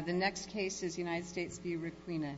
The next case is United States v. Raquina.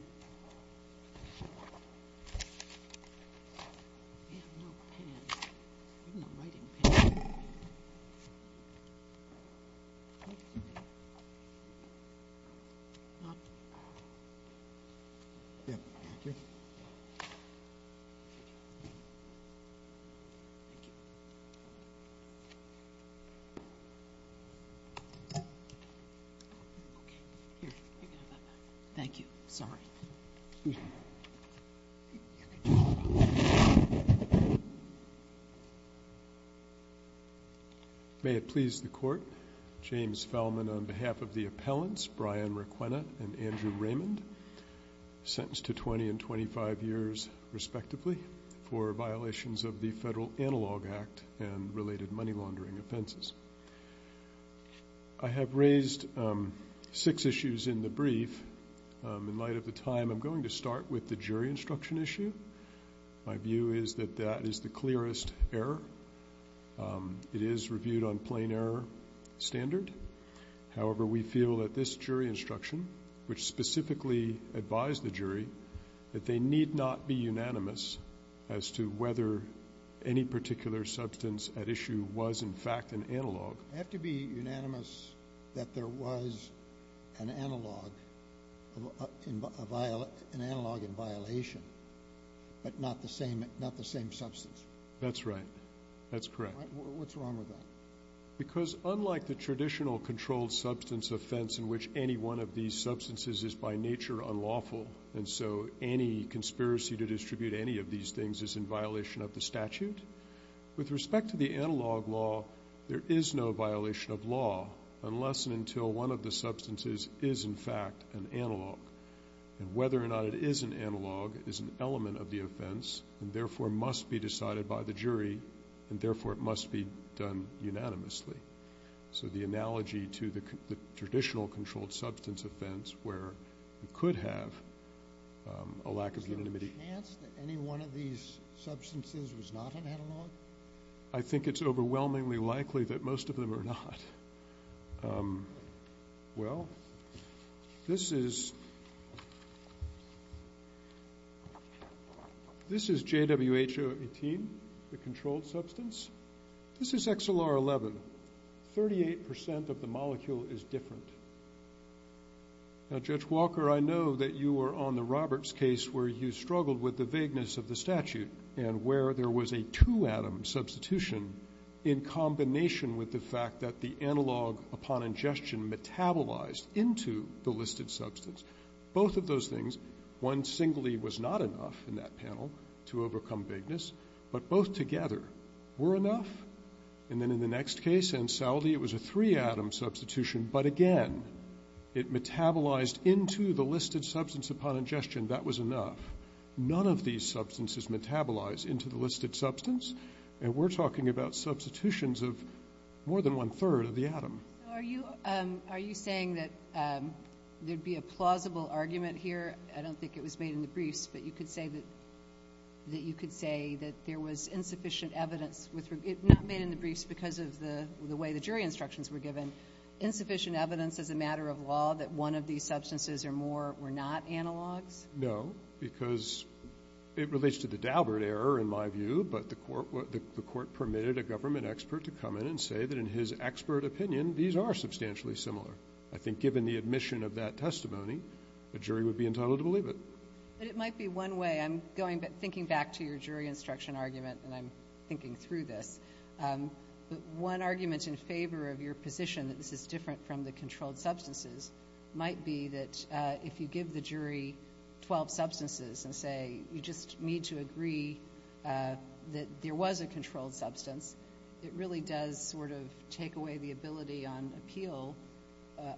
May it please the Court, James Fellman on behalf of the appellants Brian Raquina and Andrew Raymond, sentenced to 20 and 25 years respectively for violations of the Federal Penal Code of Conduct. I'm going to start with the jury instruction issue. My view is that that is the clearest error. It is reviewed on plain error standard. However, we feel that this jury instruction, which specifically advised the jury, that they need not be unanimous as to whether any particular substance at issue was in fact an analog. I have to be unanimous that there was an analog in violation, but not the same substance. That's right. That's correct. What's wrong with that? Because unlike the traditional controlled substance offense in which any one of these substances is by nature unlawful, and so any conspiracy to distribute any of these things is in violation of the statute, with respect to the analog law, there is no violation of law unless and until one of the substances is in fact an analog. Whether or not it is an analog is an element of the offense, and therefore must be decided by the jury, and therefore it must be done unanimously. So the analogy to the traditional controlled substance offense where it could have a lack of unanimity. Is there a chance that any one of these substances was not an analog? I think it's overwhelmingly likely that most of them are not. Well, this is JWH-018, the controlled substance. This is XLR-11. Thirty-eight percent of the molecule is different. Now, Judge Walker, I know that you were on the Roberts case where you struggled with the vagueness of the statute, and where there was a two-atom substitution in combination with the fact that the analog upon ingestion metabolized into the listed substance. Both of those things, one singly was not enough in that panel to overcome vagueness, but both together were enough, and then in the next case, Ansaldi, it was a three-atom substitution, but again, it metabolized into the listed substance upon ingestion. That was enough. None of these substances metabolize into the listed substance, and we're talking about substitutions of more than one-third of the atom. Are you saying that there'd be a plausible argument here? I don't think it was made in the briefs, but you could say that there was insufficient evidence as a matter of law that one of these substances or more were not analogs? No, because it relates to the Daubert error, in my view, but the court permitted a government expert to come in and say that in his expert opinion, these are substantially similar. I think given the admission of that testimony, a jury would be entitled to believe it. But it might be one way. I'm going, thinking back to your jury instruction argument, and I'm thinking through this. But one argument in favor of your position that this is different from the controlled substances might be that if you give the jury 12 substances and say, you just need to agree that there was a controlled substance, it really does sort of take away the ability on appeal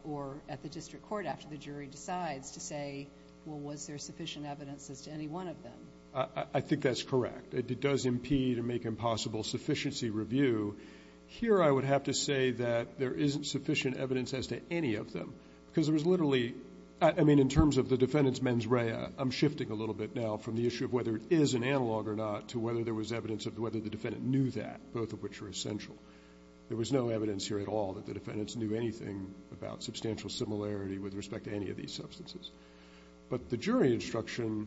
or at the district court after the jury decides to say, well, was there sufficient evidence as to any one of them? I think that's correct. It does impede or make impossible sufficiency review. Here I would have to say that there isn't sufficient evidence as to any of them, because there was literally, I mean, in terms of the defendant's mens rea, I'm shifting a little bit now from the issue of whether it is an analog or not to whether there was evidence of whether the defendant knew that, both of which are essential. There was no evidence here at all that the defendants knew anything about substantial similarity with respect to any of these substances. But the jury instruction,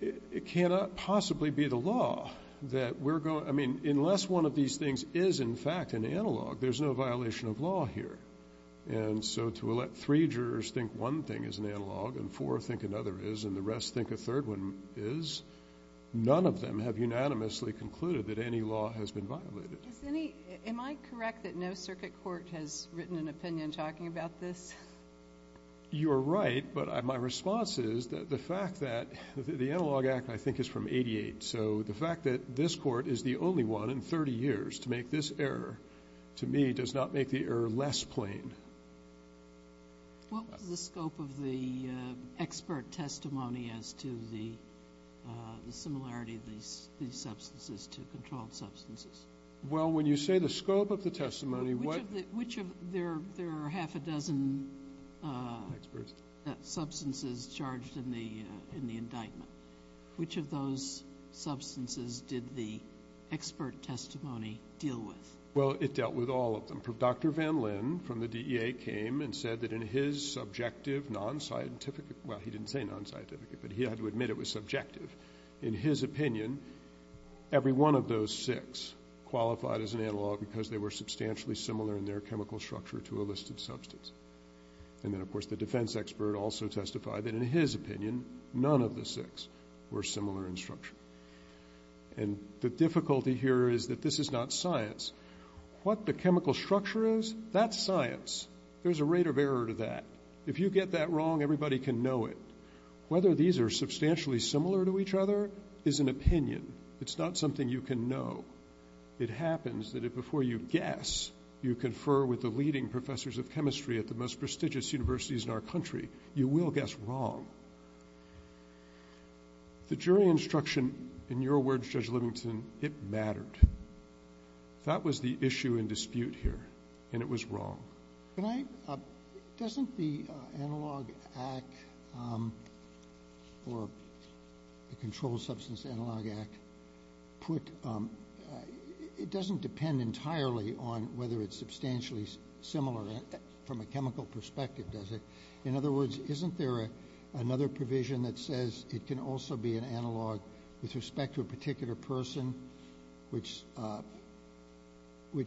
it cannot possibly be the law that we're going, I mean, unless one of these things is in fact an analog, there's no violation of law here. And so to let three jurors think one thing is an analog and four think another is and the rest think a third one is, none of them have unanimously concluded that any law has been violated. Am I correct that no circuit court has written an opinion talking about this? You are right, but my response is that the fact that the Analog Act, I think, is from 88. So the fact that this court is the only one in 30 years to make this error, to me, does not make the error less plain. What was the scope of the expert testimony as to the similarity of these substances to the non-scientific? Well, when you say the scope of the testimony, what… Which of the – there are half a dozen substances charged in the indictment. Which of those substances did the expert testimony deal with? Well, it dealt with all of them. Dr. Van Lin from the DEA came and said that in his subjective non-scientific – well, he didn't say non-scientific, but he had to admit it was subjective. In his opinion, every one of those six qualified as an analog because they were substantially similar in their chemical structure to a listed substance. And then, of course, the defense expert also testified that in his opinion, none of the six were similar in structure. And the difficulty here is that this is not science. What the chemical structure is, that's science. There's a rate of error to that. If you get that wrong, everybody can know it. Whether these are substantially similar to each other is an opinion. It's not something you can know. It happens that if before you guess, you confer with the leading professors of chemistry at the most prestigious universities in our country, you will guess wrong. The jury instruction, in your words, Judge Livington, it mattered. That was the issue and dispute here, and it was wrong. Can I – doesn't the Analog Act or the Controlled Substance Analog Act put – it doesn't depend entirely on whether it's substantially similar from a chemical perspective, does it? In other words, isn't there another provision that says it can also be an analog with respect to a particular person, which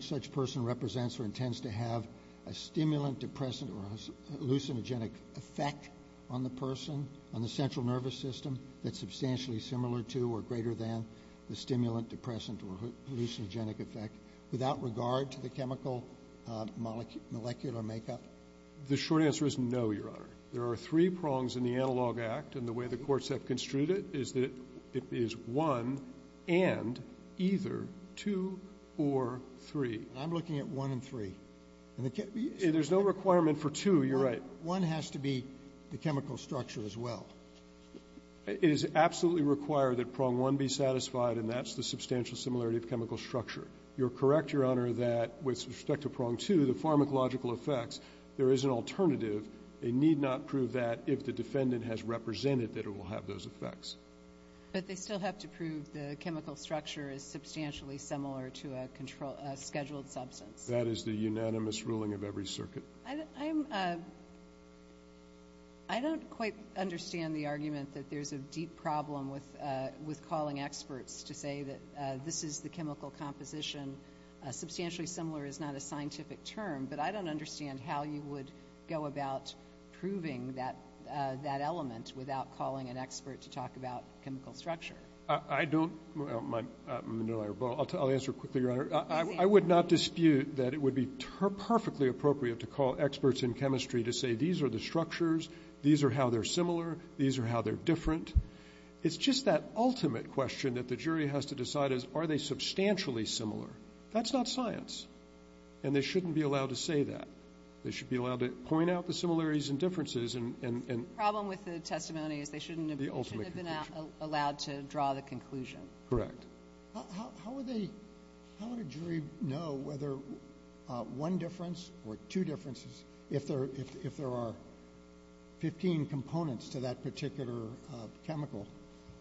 such person represents or intends to have a stimulant depressant or a hallucinogenic effect on the person, on the central nervous system that's substantially similar to or greater than the stimulant depressant or hallucinogenic effect without regard to the chemical molecular makeup? The short answer is no, Your Honor. There are three prongs in the Analog Act, and the way the courts have construed it is that it is one and either two or three. I'm looking at one and three. And the – There's no requirement for two. You're right. One has to be the chemical structure as well. It is absolutely required that prong one be satisfied, and that's the substantial similarity of chemical structure. You're correct, Your Honor, that with respect to prong two, the pharmacological effects, there is an alternative. They need not prove that if the defendant has represented that it will have those effects. But they still have to prove the chemical structure is substantially similar to a scheduled substance. That is the unanimous ruling of every circuit. I don't quite understand the argument that there's a deep problem with calling experts to say that this is the chemical composition. Substantially similar is not a scientific term, but I don't understand how you would go about proving that element without calling an expert to talk about chemical structure. I don't – I'll answer quickly, Your Honor. I would not dispute that it would be perfectly appropriate to call experts in chemistry to say these are the structures, these are how they're similar, these are how they're different. It's just that ultimate question that the jury has to decide is are they substantially similar. That's not science. And they shouldn't be allowed to say that. They should be allowed to point out the similarities and differences and – The problem with the testimony is they shouldn't have been allowed to draw the conclusion. Correct. How would a jury know whether one difference or two differences, if there are 15 components to that particular chemical,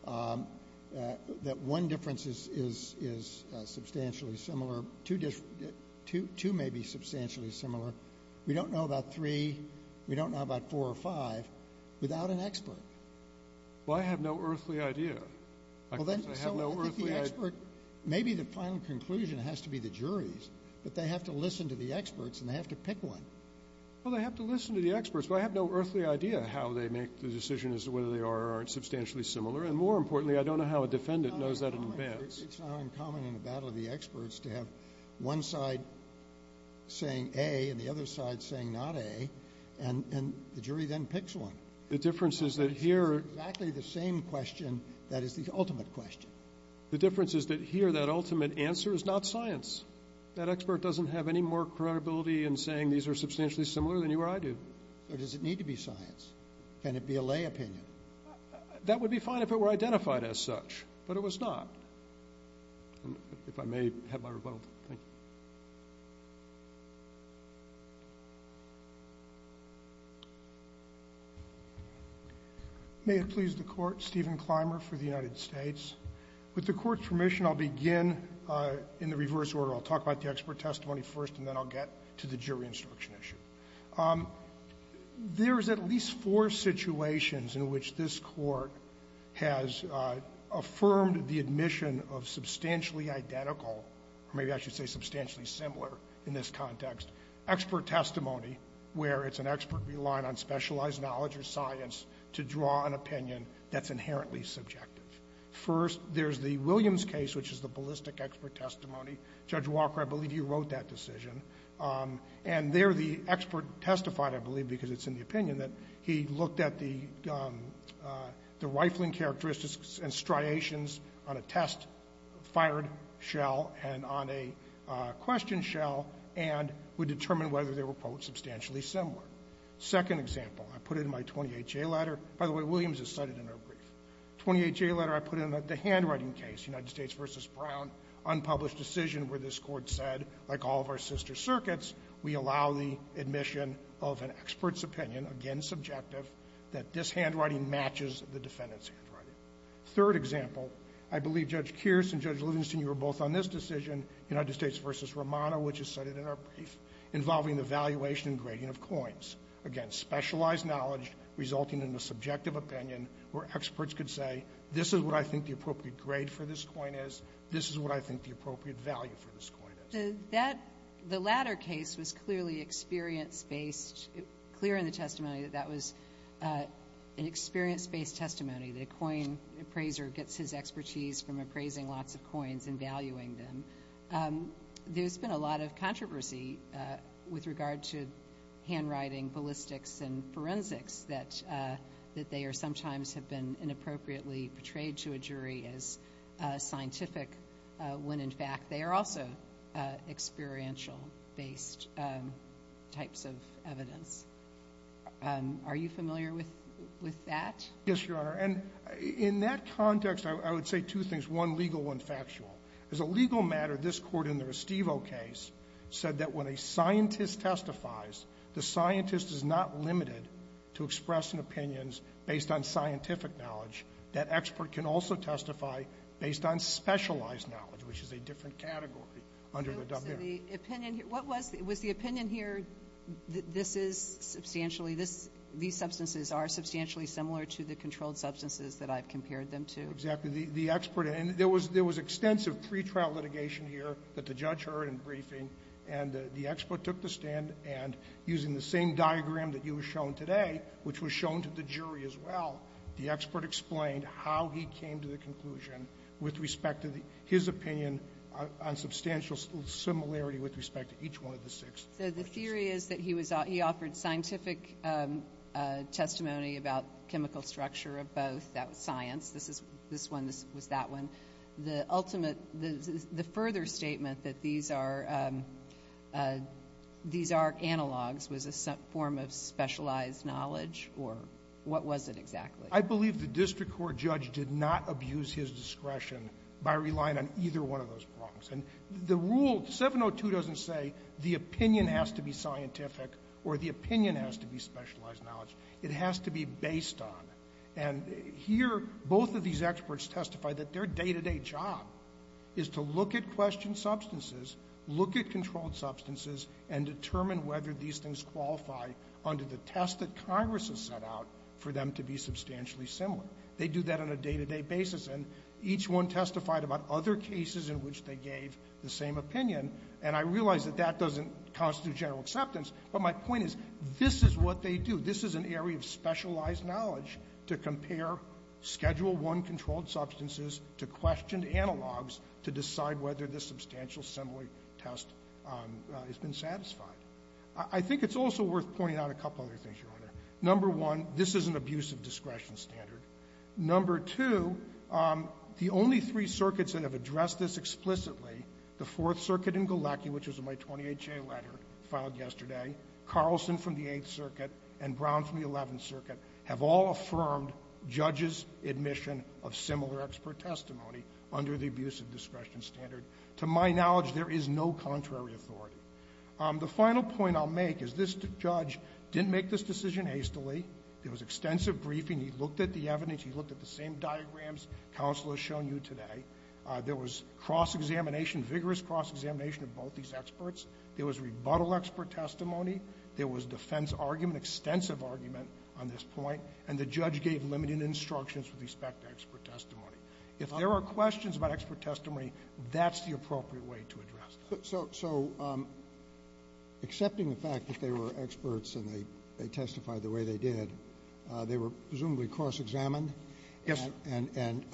that one difference is substantially similar, two may be substantially similar, we don't know about three, we don't know about four or five, without an expert. Well, I have no earthly idea. Well, then – I have no earthly – So I think the expert – maybe the final conclusion has to be the juries, but they have to listen to the experts and they have to pick one. Well, they have to listen to the experts, but I have no earthly idea how they make the decision as to whether they are or aren't substantially similar. And more importantly, I don't know how a defendant knows that in advance. It's not uncommon in a battle of the experts to have one side saying A and the other side saying not A, and the jury then picks one. The difference is that here – It's exactly the same question that is the ultimate question. The difference is that here that ultimate answer is not science. That expert doesn't have any more credibility in saying these are substantially similar than you or I do. So does it need to be science? Can it be a lay opinion? That would be fine if it were identified as such, but it was not. If I may have my rebuttal. Thank you. May it please the Court, Stephen Clymer for the United States. With the Court's permission, I'll begin in the reverse order. I'll talk about the expert testimony first and then I'll get to the jury instruction issue. There's at least four situations in which this Court has affirmed the admission of substantially identical, or maybe I should say substantially similar in this context, expert testimony where it's an expert relying on specialized knowledge or science to draw an opinion that's inherently subjective. First, there's the Williams case, which is the ballistic expert testimony. Judge Walker, I believe you wrote that decision. And there the expert testified, I believe because it's in the opinion, that he looked at the rifling characteristics and striations on a test-fired shell and on a question shell and would determine whether they were, quote, substantially similar. Second example, I put it in my 28-J letter. By the way, Williams is cited in our brief. 28-J letter I put in the handwriting case, United States v. Brown, unpublished decision where this Court said, like all of our sister circuits, we allow the admission of an expert's opinion, again subjective, that this handwriting matches the defendant's handwriting. Third example, I believe Judge Kearse and Judge Livingston, you were both on this decision, United States v. Romano, which is cited in our brief, involving the valuation and grading of coins. Again, specialized knowledge resulting in a subjective opinion where experts could say, this is what I think the appropriate grade for this coin is, this is what I think the appropriate value for this coin is. The latter case was clearly experience-based, clear in the testimony that that was an experience-based testimony. The coin appraiser gets his expertise from appraising lots of coins and valuing them. There's been a lot of controversy with regard to handwriting, ballistics, and forensics that they are sometimes have been inappropriately portrayed to a jury as scientific when in fact they are also experiential-based types of evidence. Are you familiar with that? Yes, Your Honor. And in that context, I would say two things, one legal, one factual. As a legal matter, this Court in the Restivo case said that when a scientist testifies, the scientist is not limited to expressing opinions based on scientific knowledge. That expert can also testify based on specialized knowledge, which is a different category under the W. So the opinion here, what was, was the opinion here that this is substantially, these substances are substantially similar to the controlled substances that I've compared them to? Exactly. The expert, and there was extensive pre-trial litigation here that the judge heard in briefing and the expert took the stand and using the same diagram that you have shown today, which was shown to the jury as well, the expert explained how he came to the conclusion with respect to his opinion on substantial similarity with respect to each one of the six. So the theory is that he was, he offered scientific testimony about chemical structure of both, that was science, this is, this one was that one. The ultimate, the further statement that these are, these are analogs was a form of specialized knowledge or what was it exactly? I believe the district court judge did not abuse his discretion by relying on either one of those problems. And the rule, 702 doesn't say the opinion has to be scientific or the opinion has to be specialized knowledge. It has to be based on. And here, both of these experts testified that their day-to-day job is to look at questioned substances, look at controlled substances and determine whether these things qualify under the test that Congress has set out for them to be substantially similar. They do that on a day-to-day basis and each one testified about other cases in which they gave the same opinion and I realize that that doesn't constitute general acceptance, but my point is this is what they do. This is an area of specialized knowledge to compare Schedule I controlled substances to questioned analogs to decide whether the substantial similar test has been satisfied. I think it's also worth pointing out a couple other things, Your Honor. Number one, this is an abuse of discretion standard. Number two, the only three circuits that have addressed this explicitly, the Fourth Circuit, Brown from the Eleventh Circuit, have all affirmed judges' admission of similar expert testimony under the abuse of discretion standard. To my knowledge, there is no contrary authority. The final point I'll make is this judge didn't make this decision hastily. There was extensive briefing. He looked at the evidence. He looked at the same diagrams counsel has shown you today. There was cross-examination, vigorous cross-examination of both these experts. There was rebuttal expert testimony. There was defense argument, extensive argument on this point, and the judge gave limited instructions with respect to expert testimony. If there are questions about expert testimony, that's the appropriate way to address it. Roberts. So accepting the fact that they were experts and they testified the way they did, they were presumably cross-examined? Yes, sir. And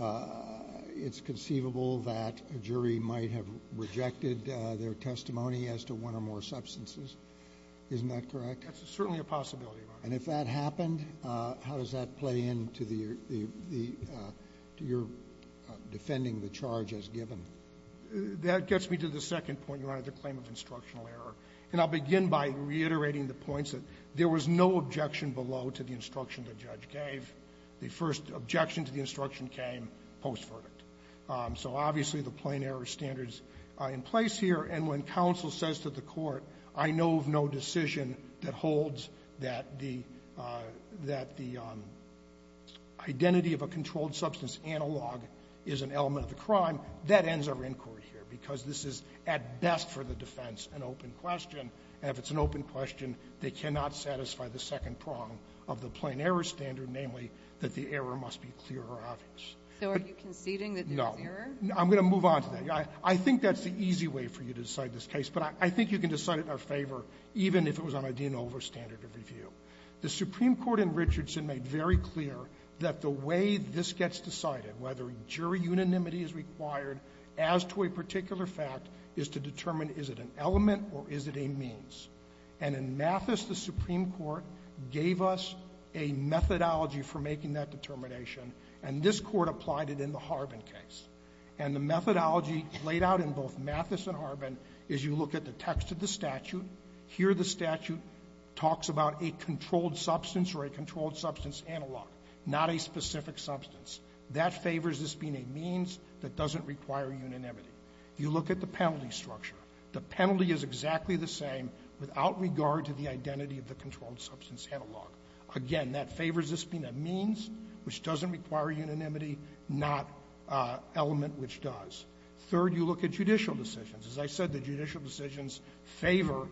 it's conceivable that a jury might have rejected their testimony as to one or more substances. Isn't that correct? That's certainly a possibility, Your Honor. And if that happened, how does that play into the your defending the charge as given? That gets me to the second point, Your Honor, the claim of instructional error. And I'll begin by reiterating the points that there was no objection below to the instruction the judge gave. The first objection to the instruction came post-verdict. So obviously, the plain error standard is in place here. And when counsel says to the Court, I know of no decision that holds that the identity of a controlled substance analog is an element of the crime, that ends our inquiry here, because this is, at best for the defense, an open question. And if it's an open question, they cannot satisfy the second prong of the plain error standard, namely, that the error must be clear or obvious. So are you conceding that there's error? No. I'm going to move on to that. I think that's the easy way for you to decide this case. But I think you can decide it in our favor, even if it was on a de novo standard of review. The Supreme Court in Richardson made very clear that the way this gets decided, whether jury unanimity is required as to a particular fact, is to determine is it an element or is it a means. And in Mathis, the Supreme Court gave us a methodology for making that determination. And this Court applied it in the Harbin case. And the methodology laid out in both Mathis and Harbin is you look at the text of the statute. Here the statute talks about a controlled substance or a controlled substance analog, not a specific substance. That favors this being a means that doesn't require unanimity. You look at the penalty structure. The penalty is exactly the same without regard to the identity of the controlled substance analog. Again, that favors this being a means which doesn't require unanimity, not element which does. Third, you look at judicial decisions. As I said, the judicial decisions favor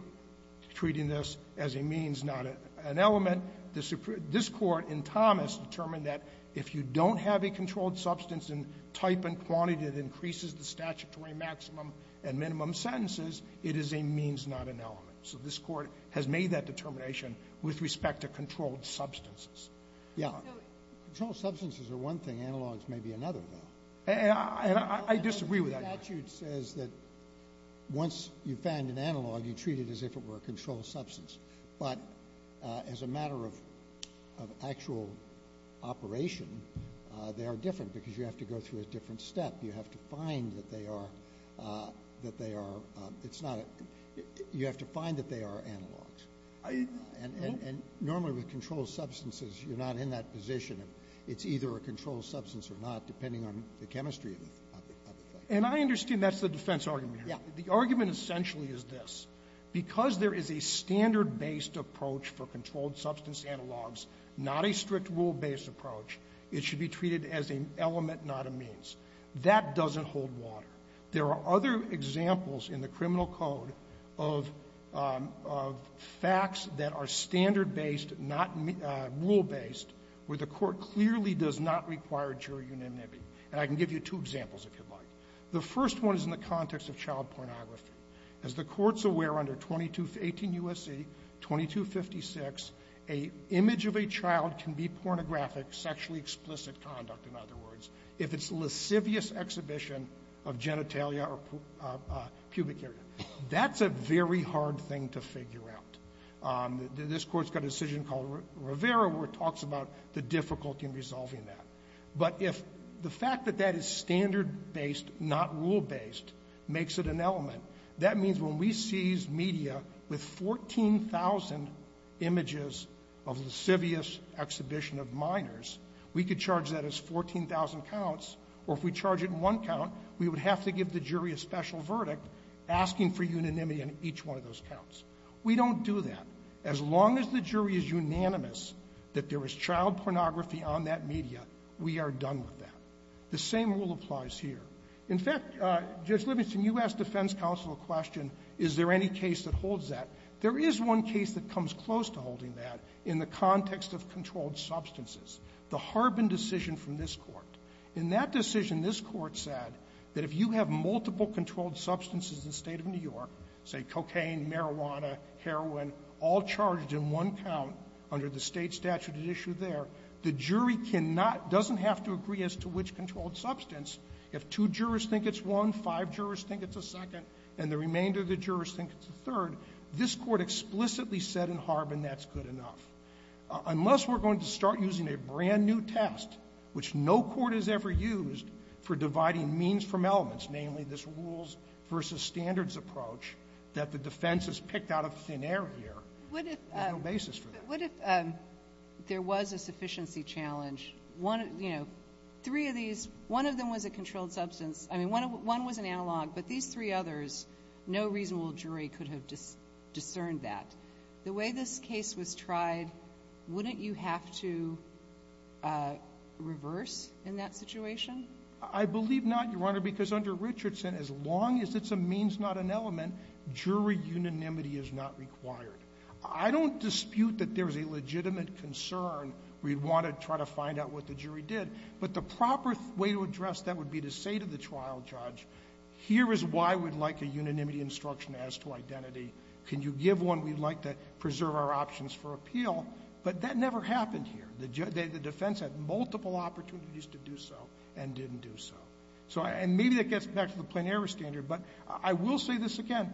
treating this as a means, not an element. This Court in Thomas determined that if you don't have a controlled substance in type and quantity that increases the statutory maximum and minimum sentences, it is a means, not an element. So this Court has made that determination with respect to controlled substances. Yeah. Controlled substances are one thing. Analogs may be another, though. And I disagree with that. The statute says that once you find an analog, you treat it as if it were a controlled substance. But as a matter of actual operation, they are different because you have to go through a different step. You have to find that they are – that they are – it's not a – you have to find that they are analogs. And normally with controlled substances, you're not in that position. It's either a controlled substance or not, depending on the chemistry of the thing. And I understand that's the defense argument here. Yeah. The argument essentially is this. Because there is a standard-based approach for controlled substance analogs, not a strict rule-based approach, it should be treated as an element, not a means. That doesn't hold water. There are other examples in the criminal code of facts that are standard-based, not rule-based, where the court clearly does not require jury unanimity. And I can give you two examples, if you'd like. The first one is in the context of child pornography. As the Court's aware, under 18 U.S.C. 2256, a image of a child can be pornographic, sexually explicit conduct, in other words. If it's a lascivious exhibition of genitalia or pubic area. That's a very hard thing to figure out. This Court's got a decision called Rivera where it talks about the difficulty in resolving that. But if the fact that that is standard-based, not rule-based, makes it an element, that means when we seize media with 14,000 images of lascivious exhibition of minors, we could charge that as 14,000 counts, or if we charge it in one count, we would have to give the jury a special verdict asking for unanimity on each one of those counts. We don't do that. As long as the jury is unanimous that there is child pornography on that media, we are done with that. The same rule applies here. In fact, Judge Livingston, you asked defense counsel a question, is there any case that holds that. There is one case that comes close to holding that in the context of controlled substances. The Harbin decision from this Court. In that decision, this Court said that if you have multiple controlled substances in the State of New York, say cocaine, marijuana, heroin, all charged in one count under the State statute at issue there, the jury cannot, doesn't have to agree as to which controlled substance. If two jurors think it's one, five jurors think it's a second, and the remainder of the jurors think it's a third, this Court explicitly said in Harbin that's good enough. Unless we're going to start using a brand-new test, which no court has ever used for dividing means from elements, namely this rules versus standards approach that the defense has picked out of thin air here, there's no basis for that. What if there was a sufficiency challenge? One, you know, three of these, one of them was a controlled substance. I mean, one was an analog, but these three others, no reasonable jury could have discerned that. The way this case was tried, wouldn't you have to reverse in that situation? I believe not, Your Honor, because under Richardson, as long as it's a means, not an element, jury unanimity is not required. I don't dispute that there's a legitimate concern. We'd want to try to find out what the jury did. But the proper way to address that would be to say to the trial judge, here is why we'd like a unanimity instruction as to identity. Can you give one? We'd like to preserve our options for appeal. But that never happened here. The defense had multiple opportunities to do so and didn't do so. And maybe that gets back to the plenary standard, but I will say this again.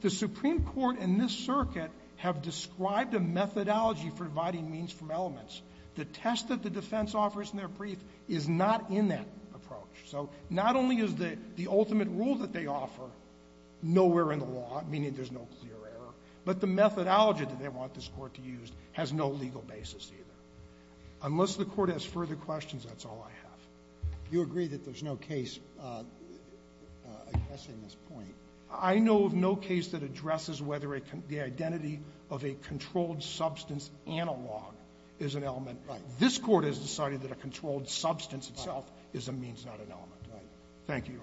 The Supreme Court and this circuit have described a methodology for dividing means from elements. The test that the defense offers in their brief is not in that approach. So not only is the ultimate rule that they offer nowhere in the law, meaning there's no clear error, but the methodology that they want this Court to use has no legal basis, either. Unless the Court has further questions, that's all I have. You agree that there's no case addressing this point? I know of no case that addresses whether the identity of a controlled substance analog is an element. Right. This Court has decided that a controlled substance itself is a means, not an element. Right. Thank you, Your Honor.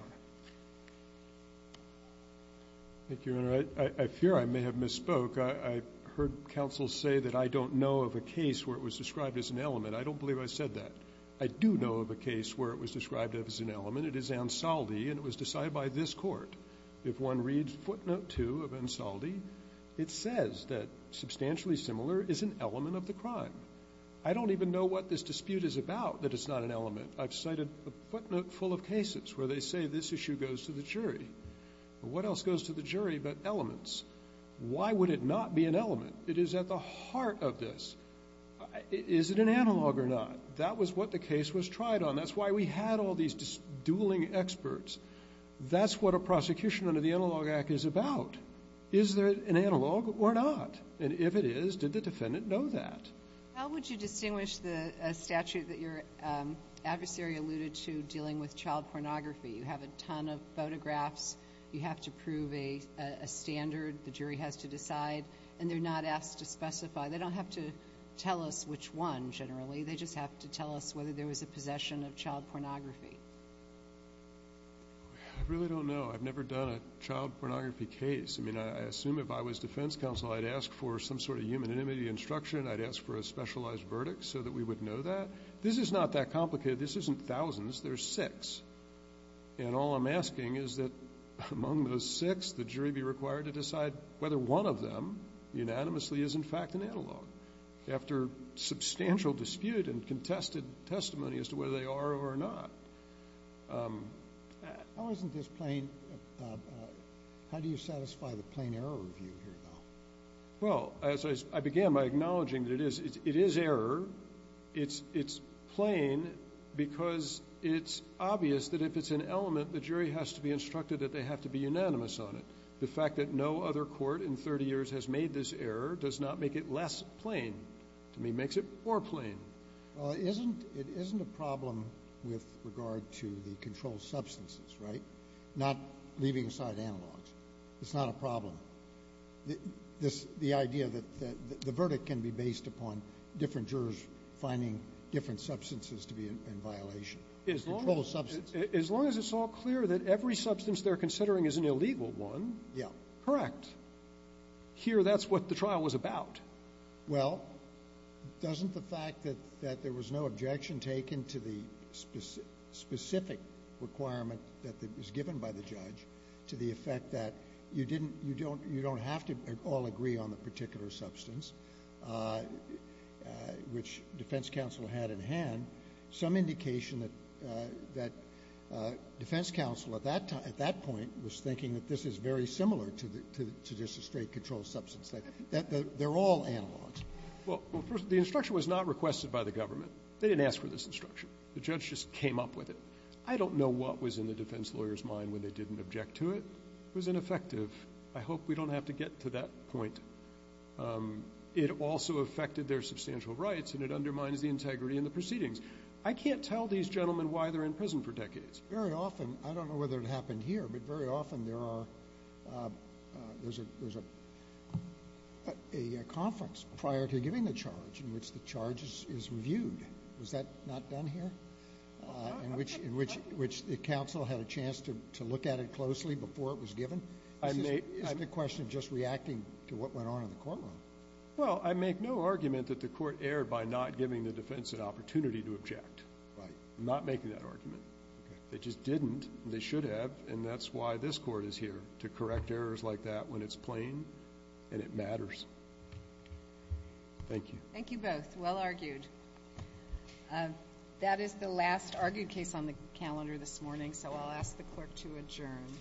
Thank you, Your Honor. I fear I may have misspoke. I heard counsel say that I don't know of a case where it was described as an element. I don't believe I said that. I do know of a case where it was described as an element. It is Ansaldi, and it was decided by this Court. If one reads footnote 2 of Ansaldi, it says that substantially similar is an element of the crime. I don't even know what this dispute is about that it's not an element. I've cited a footnote full of cases where they say this issue goes to the jury. What else goes to the jury but elements? Why would it not be an element? It is at the heart of this. Is it an analog or not? That was what the case was tried on. That's why we had all these dueling experts. That's what a prosecution under the Analog Act is about. Is there an analog or not? And if it is, did the defendant know that? How would you distinguish the statute that your adversary alluded to dealing with child pornography? You have a ton of photographs. You have to prove a standard the jury has to decide, and they're not asked to specify. They don't have to tell us which one, generally. They just have to tell us whether there was a possession of child pornography. I really don't know. I've never done a child pornography case. I mean, I assume if I was defense counsel, I'd ask for some sort of human intimacy instruction. I'd ask for a specialized verdict so that we would know that. This is not that complicated. This isn't thousands. There's six. And all I'm asking is that among those six, the jury be required to decide whether one of them unanimously is in fact an analog after substantial dispute and contested testimony as to whether they are or not. How do you satisfy the plain error review here, though? Well, as I began by acknowledging that it is error. It's plain because it's obvious that if it's an element, the jury has to be instructed that they have to be unanimous on it. The fact that no other court in 30 years has made this error does not make it less plain. To me, it makes it more plain. Well, it isn't a problem with regard to the controlled substances, right? Not leaving aside analogs. It's not a problem. The idea that the verdict can be based upon different jurors finding different substances to be in violation. Controlled substances. As long as it's all clear that every substance they're considering is an illegal one. Yeah. Correct. Here, that's what the trial was about. Well, doesn't the fact that there was no objection taken to the specific requirement that was given by the judge to the effect that you don't have to all agree on the particular substance, which defense counsel had in hand, some indication that defense counsel at that point was thinking that this is very similar to just a straight controlled substance. They're all analogs. Well, the instruction was not requested by the government. They didn't ask for this instruction. The judge just came up with it. I don't know what was in the defense lawyer's mind when they didn't object to it. It was ineffective. I hope we don't have to get to that point. It also affected their substantial rights, and it undermines the integrity in the proceedings. I can't tell these gentlemen why they're in prison for decades. Very often, I don't know whether it happened here, but very often there are – there's a conference prior to giving the charge in which the charge is reviewed. Was that not done here? In which the counsel had a chance to look at it closely before it was given? Is this not a question of just reacting to what went on in the courtroom? Well, I make no argument that the court erred by not giving the defense an opportunity to object. Right. I'm not making that argument. Okay. They just didn't. They should have, and that's why this court is here, to correct errors like that when it's plain and it matters. Thank you. Thank you both. Well argued. That is the last argued case on the calendar this morning, so I'll ask the clerk to adjourn.